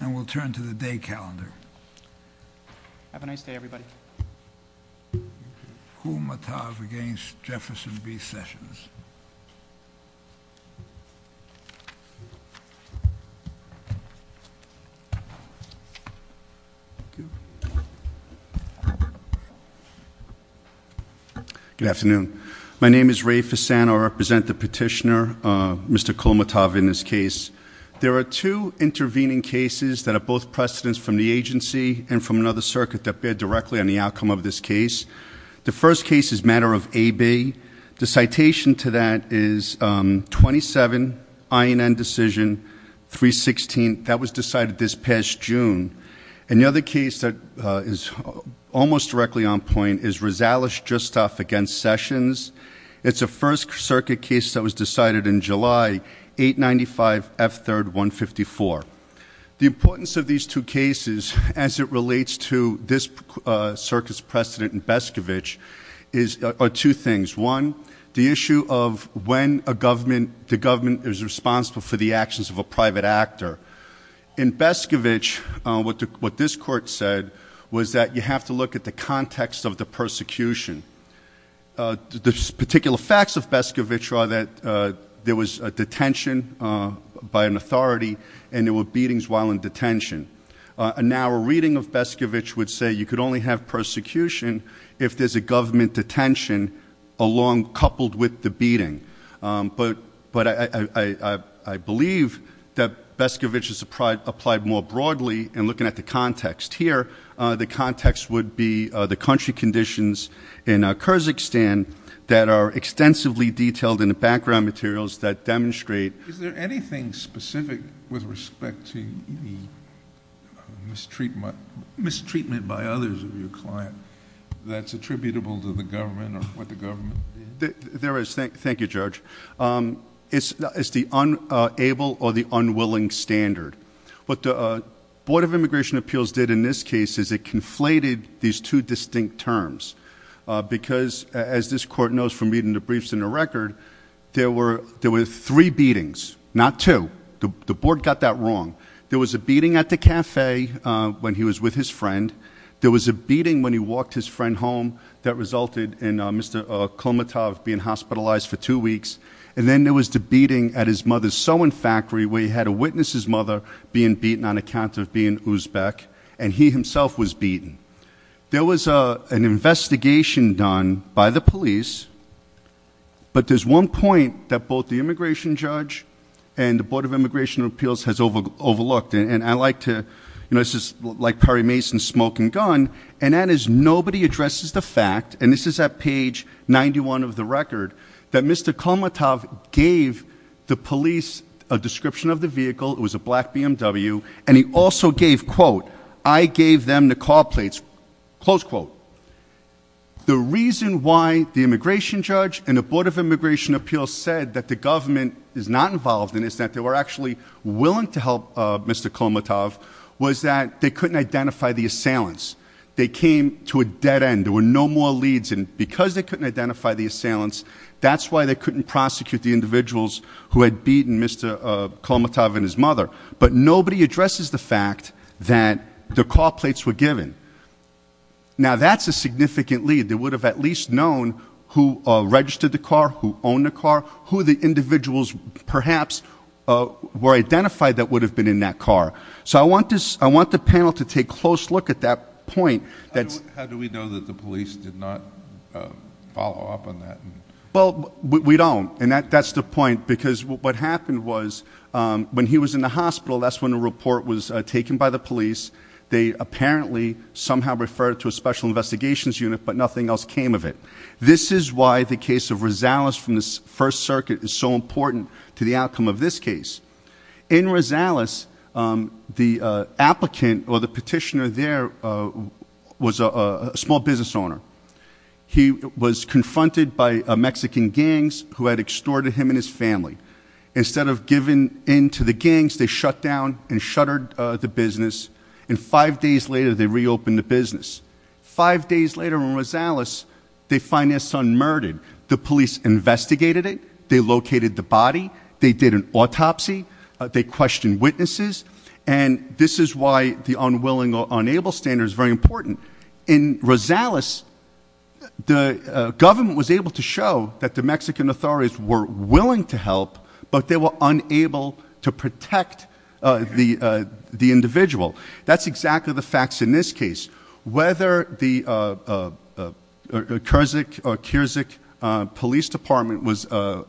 and we'll turn to the day calendar. Have a nice day everybody. Kulmatov against Jefferson v. Sessions. Good afternoon. My name is Ray Fasano. I represent the petitioner, Mr. Kulmatov, in this case. There are two intervening cases that are both precedents from the agency and from another circuit that bid directly on the outcome of this case. The first case is matter of A-B. The citation to that is 27 INN decision 316. That was decided this past June. And the other case that is almost directly on point is Rizalish v. Sessions. It's a first circuit case that was decided in July, 895 F3rd 154. The importance of these two cases as it relates to this circuit's precedent in Bescovich are two things. One, the issue of when the government is responsible for the actions of a private actor. In Bescovich, what this court said was that you have to look at the context of the persecution. The particular facts of Bescovich are that there was a detention by an authority and there were beatings while in detention. A narrow reading of Bescovich would say you could only have persecution if there's a government detention along coupled with the beating. But I believe that Bescovich is applied more broadly in looking at the context. Here, the context would be the country conditions in Kyrgyzstan that are extensively detailed in the background materials that demonstrate... Is there anything specific with respect to the mistreatment by others of your client that's attributable to the government or what the government did? There is. Thank you, Judge. It's the unable or the unwilling standard. What the Board of this Court knows from reading the briefs and the record, there were three beatings, not two. The Board got that wrong. There was a beating at the cafe when he was with his friend. There was a beating when he walked his friend home that resulted in Mr. Kolmatov being hospitalized for two weeks. And then there was the beating at his mother's sewing factory where he had to witness his mother being beaten on account of being Uzbek, and he himself was beaten. There was an investigation done by the police, but there's one point that both the immigration judge and the Board of Immigration and Appeals has overlooked, and I like to... This is like Perry Mason's smoking gun, and that is nobody addresses the fact, and this is at page 91 of the record, that Mr. Kolmatov gave the police a description of the vehicle. It was a black BMW, and he also gave, quote, I gave them the car plates, close quote. The reason why the immigration judge and the Board of Immigration and Appeals said that the government is not involved in this, that they were actually willing to help Mr. Kolmatov, was that they couldn't identify the assailants. They came to a dead end. There were no more leads, and because they couldn't identify the assailants, that's why they couldn't prosecute the individuals who had beaten Mr. Kolmatov and his mother, but nobody addresses the fact that the car plates were given. Now that's a significant lead. They would have at least known who registered the car, who owned the car, who the individuals perhaps were identified that would have been in that car. So I want the panel to take a close look at that point. How do we know that the police did not follow up on that? Well, we don't, and that's the point, because what happened was when he was in the hospital, that's when a report was taken by the police. They apparently somehow referred to a special investigations unit, but nothing else came of it. This is why the case of Rosales from the First Circuit is so important to the outcome of this case. In Rosales, the applicant or the petitioner there was a small business owner. He was confronted by Mexican gangs who had extorted him and his family. Instead of giving in to the gangs, they shut down and shuttered the business, and five days later they reopened the business. Five days later in Rosales, they find their son murdered. The police investigated it. They located the body. They did an autopsy. They questioned witnesses, and this is why the unwilling or unable standard is very important. In Rosales, the government was able to show that the Mexican authorities were willing to help, but they were unable to protect the individual. That's exactly the facts in this case. Whether the Kyrzyk Police Department was a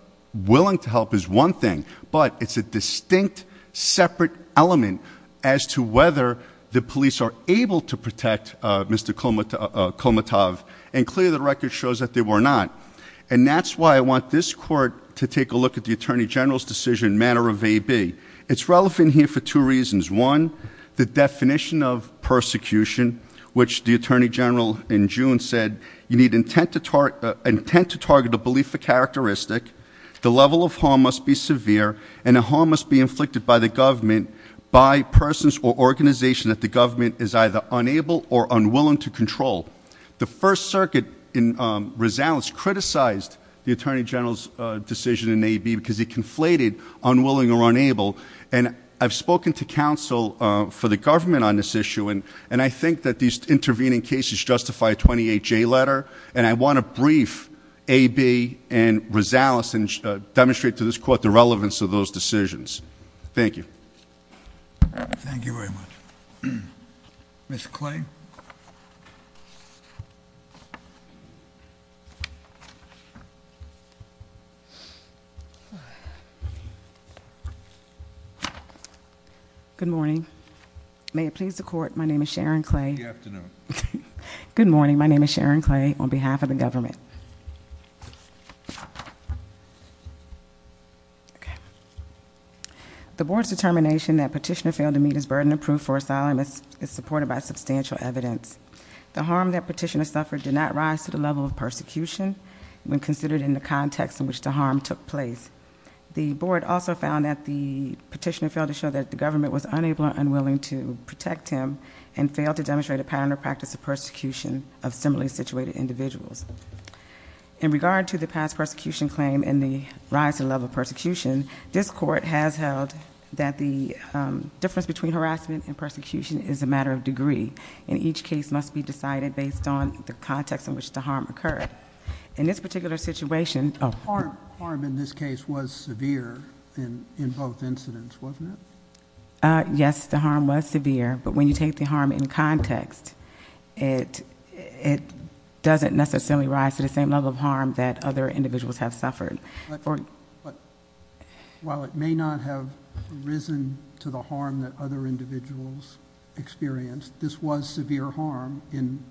distinct separate element as to whether the police are able to protect Mr. Kolmatov, and clearly the record shows that they were not. And that's why I want this court to take a look at the Attorney General's decision in a manner of AB. It's relevant here for two reasons. One, the definition of persecution, which the Attorney General in June said, you need intent to target a characteristic. The level of harm must be severe, and the harm must be inflicted by the government, by persons or organizations that the government is either unable or unwilling to control. The First Circuit in Rosales criticized the Attorney General's decision in AB because it conflated unwilling or unable, and I've spoken to counsel for the government on this issue, and I think that these intervening cases justify a 28-J letter, and I want to brief AB and Rosales and demonstrate to this court the relevance of those decisions. Thank you. Thank you very much. Ms. Clay. Good morning. May it please the court, my name is Sharon Clay. Good morning, my name is Sharon Clay on behalf of the government. Okay. The board's determination that petitioner failed to meet his burden of proof for asylum is supported by substantial evidence. The harm that petitioner suffered did not rise to the level of persecution when considered in the context in which the harm took place. The board also found that the petitioner failed to show that the government was unable or unwilling to protect him and failed to demonstrate a pattern or practice of persecution of similarly situated individuals. In regard to the past persecution claim and the rise in level of persecution, this court has held that the difference between harassment and persecution is a matter of degree, and each case must be decided based on the context in which the harm occurred. In this particular situation, harm in this case was severe in both incidents, wasn't it? Yes, the harm was severe, but when you take the harm in context, it doesn't necessarily rise to the same level of harm that other individuals have suffered. While it may not have risen to the harm that other individuals experienced, this was severe harm in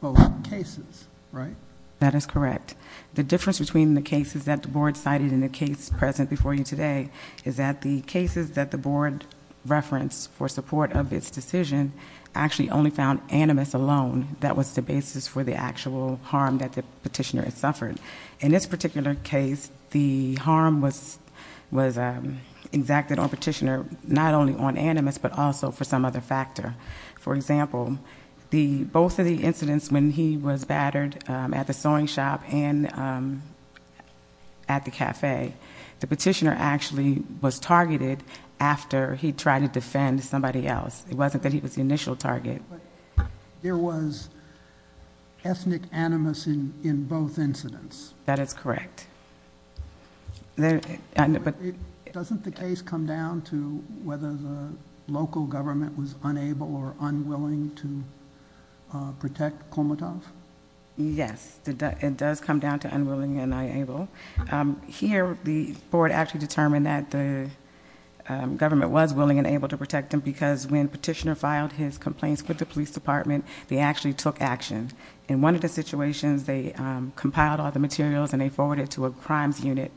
both cases, right? That is correct. The difference between the cases that the board cited in the case present before you today is that the cases that the board referenced for support of its decision actually only found animus alone that was the basis for the actual harm that the petitioner had suffered. In this particular case, the harm was exacted on petitioner not only on animus, but also for some other factor. For example, both of the incidents when he was battered at the sewing shop and at the cafe, the petitioner actually was targeted after he tried to defend somebody else. It wasn't that he was the initial target. There was ethnic animus in both incidents. That is correct. Doesn't the case come down to whether the local government was unable or unwilling to protect the petitioner? It does come down to unwilling and unable. Here, the board actually determined that the government was willing and able to protect him because when petitioner filed his complaints with the police department, they actually took action. In one of the situations, they compiled all the materials and they forwarded it to a crimes unit.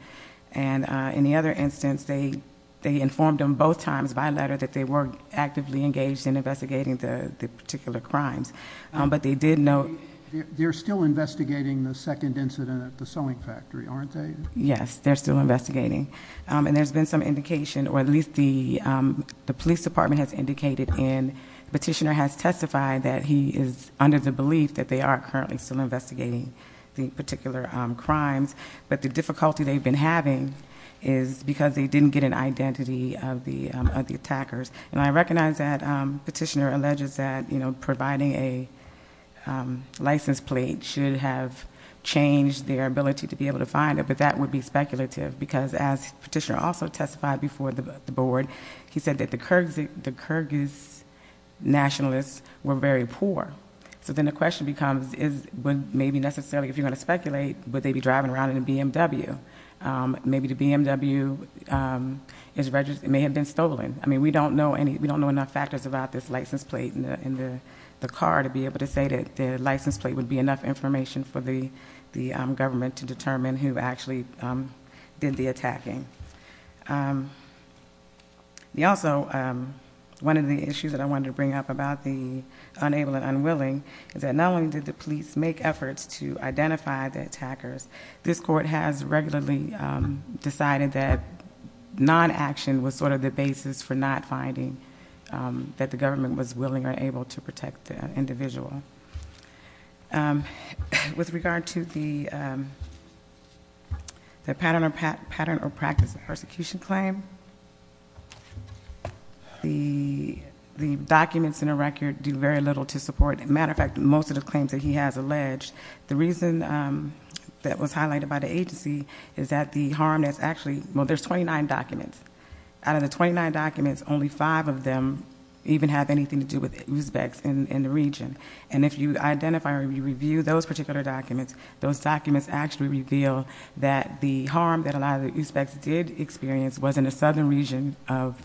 In the other instance, they informed them both times by letter that they were actively engaged in investigating the particular crimes. They're still investigating the second incident at the sewing factory, aren't they? Yes, they're still investigating. There's been some indication or at least the police department has indicated and petitioner has testified that he is under the belief that they are currently still investigating the particular crimes. The difficulty they've been having is because they didn't get an identity of the attackers. I recognize that petitioner providing a license plate should have changed their ability to be able to find it, but that would be speculative because as petitioner also testified before the board, he said that the Kyrgyz nationalists were very poor. Then the question becomes if you're going to speculate, would they be driving around in a BMW? Maybe the BMW may have been stolen. We don't know enough factors about this license plate in the car to be able to say that the license plate would be enough information for the government to determine who actually did the attacking. Also, one of the issues that I wanted to bring up about the unable and unwilling is that not only did the police make efforts to identify the attackers, this court has regularly decided that non-action was sort of the basis for not finding that the government was willing or able to protect the individual. With regard to the pattern or practice of persecution claim, the documents in the record do very little to support. As a matter of fact, most of the claims that he has alleged, the reason that was highlighted by the agency is that the harm that's actually, well, there's 29 documents. Out of the 29 documents, only five of them even have anything to do with Uzbeks in the region. If you identify or you review those particular documents, those documents actually reveal that the harm that a lot of the Uzbeks did experience was in the southern region of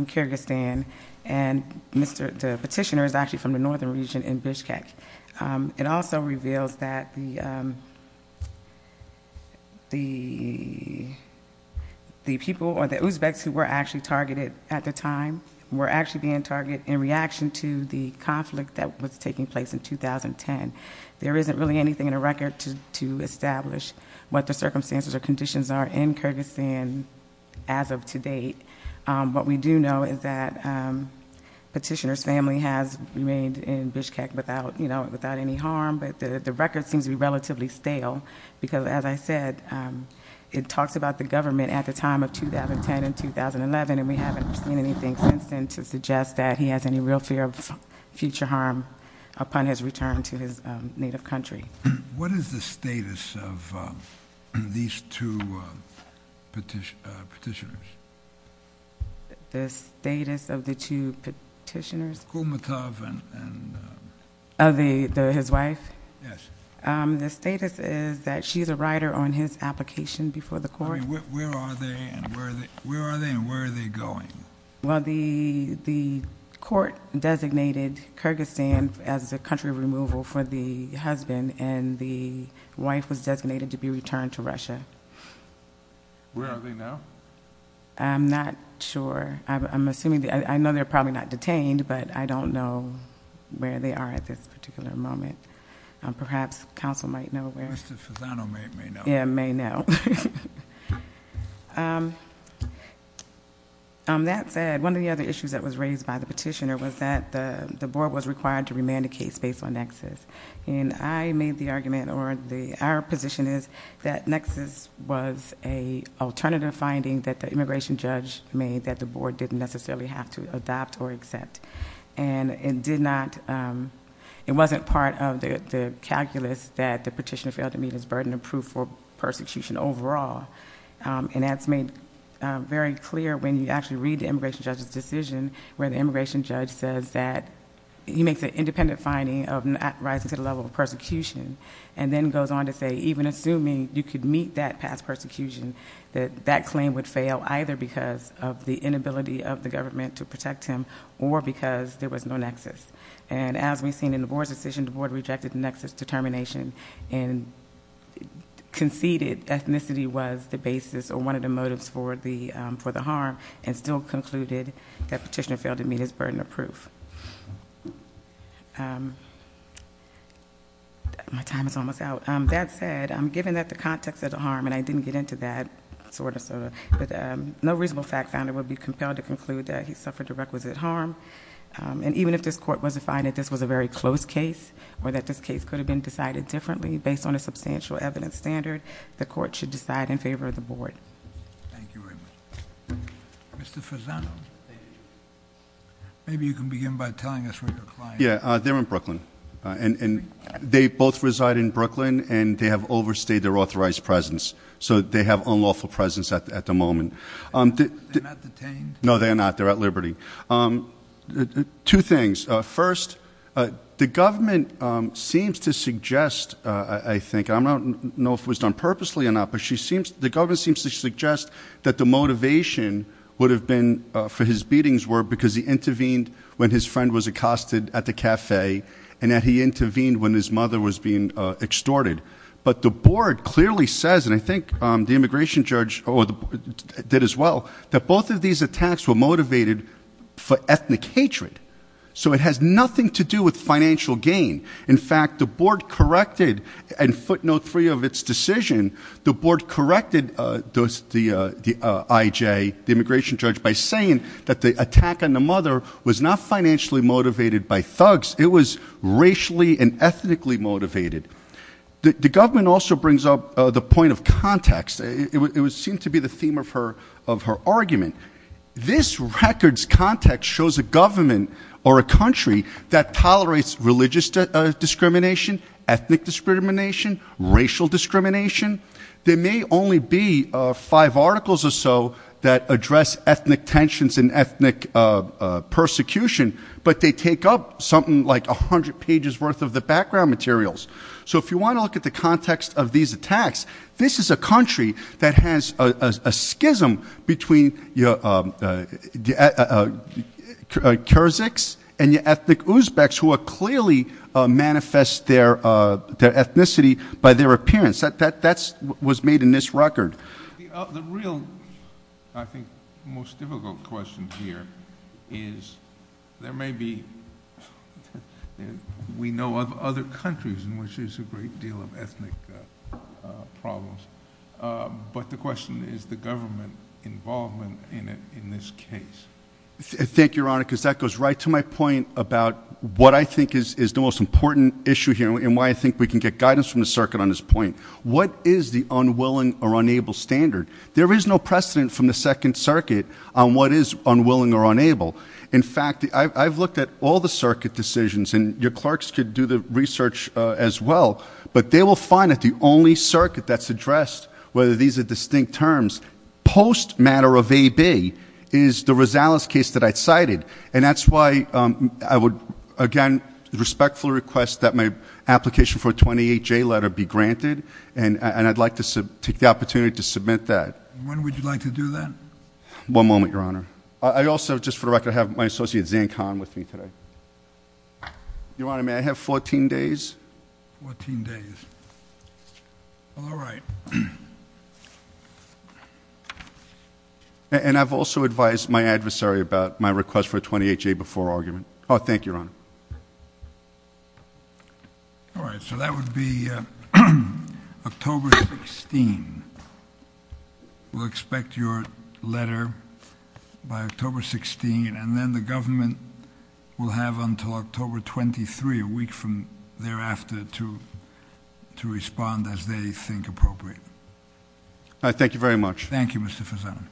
Kyrgyzstan. The petitioner is actually from northern region in Bishkek. It also reveals that the people or the Uzbeks who were actually targeted at the time were actually being targeted in reaction to the conflict that was taking place in 2010. There isn't really anything in the record to establish what the circumstances or conditions are in Kyrgyzstan as of today. What we do know is that petitioner's family has remained in Bishkek without any harm, but the record seems to be relatively stale because, as I said, it talks about the government at the time of 2010 and 2011, and we haven't seen anything since then to suggest that he has any real fear of future harm upon his return to his native country. What is the status of these two petitioners? The status of the two petitioners? Kulmatov and... His wife? Yes. The status is that she's a rider on his application before the court. Where are they and where are they going? Well, the court designated Kyrgyzstan as a country of removal for the husband, and the wife was designated to be returned to Russia. Where are they now? I'm not sure. I'm assuming... I know they're probably not detained, but I don't know where they are at this particular moment. Perhaps counsel might know where... Mr. Fasano may know. Yeah, may know. That said, one of the other issues that was raised by the petitioner was that the board was required to remand a case based on nexus, and I made the argument, or our position is that nexus was an alternative finding that the immigration judge made that the board didn't necessarily have to adopt or accept. It wasn't part of the calculus that the petitioner failed to meet his burden of proof for persecution overall, and that's made very clear when you actually read the immigration judge's decision, where the immigration judge says that he makes an independent finding of not rising to the level of persecution, and then goes on to say, even assuming you could meet that past persecution, that that claim would fail either because of the inability of the government to protect him or because there was no nexus. As we've seen in the board's decision, the board rejected nexus determination and conceded ethnicity was the basis or one of the motives for the harm, and still concluded that petitioner failed to meet his burden of proof. My time is almost out. That said, given that the context of the harm, and I didn't get into that, sort of, but no reasonable fact found it would be compelled to conclude that he suffered a requisite harm, and even if this court was to find that this was a very close case or that this case could have been decided differently based on a substantial evidence standard, the court should decide in favor of the board. Thank you very much. Mr. Fasano, maybe you can begin by telling us where your client is. Yeah, they're in Brooklyn, and they both reside in Brooklyn, and they have overstayed their authorized presence, so they have unlawful presence at the moment. They're not detained? No, they're not. They're at liberty. Two things. First, the government seems to suggest, I think, I don't know if it was done purposely or not, but the government seems to suggest that the motivation would have been for his beatings were because he intervened when his friend was accosted at the cafe, and that he intervened when his mother was being extorted, but the board clearly says, and I think the immigration judge did as well, that both of these attacks were motivated for ethnic hatred, so it has nothing to do with financial gain. In fact, the board corrected, and footnote three of its decision, the board corrected the IJ, the immigration judge, by saying that the attack on the mother was not financially motivated by thugs, it was racially and ethnically motivated. The government also brings up the point of context. It would seem to be the theme of her argument. This record's context shows a government or a country that tolerates religious discrimination, ethnic discrimination, racial discrimination. There may only be five articles or so that address ethnic tensions and ethnic persecution, but they take up something like 100 pages worth of the background materials. So if you want to look at the context of these attacks, this is a country that has a schism between the Kyrgyz and the ethnic Uzbeks, who clearly manifest their ethnicity by their appearance. That was made in this record. The real, I think, most difficult question here is, there may be, we know of other countries in which there's a great deal of ethnic problems, but the question is the government involvement in this case. Thank you, Your Honor, because that goes right to my point about what I think is the most important issue here and why I think we can get guidance from the circuit on this point. What is the unwilling or unable standard? There is no precedent from the Second Circuit on what is unwilling or unable. In fact, I've looked at all the circuit decisions, and your clerks could do the research as well, but they will find that the only circuit that's addressed, whether these are distinct terms, post matter of AB, is the Rosales case that I cited. And that's why I would, again, respectfully request that my application for a 28-J letter be granted, and I'd like to take the opportunity to submit that. When would you like to do that? One moment, Your Honor. I also, just for the record, have my associate, Zain Khan, with me today. Your Honor, may I have 14 days? Fourteen days. All right. And I've also advised my adversary about my request for a 28-J before argument. Oh, thank you, Your Honor. All right, so that would be October 16. We'll expect your letter by October 16, and then the government will have until October 23, a week from thereafter, to respond as they think appropriate. All right, thank you very much. Thank you, Mr. Fasano.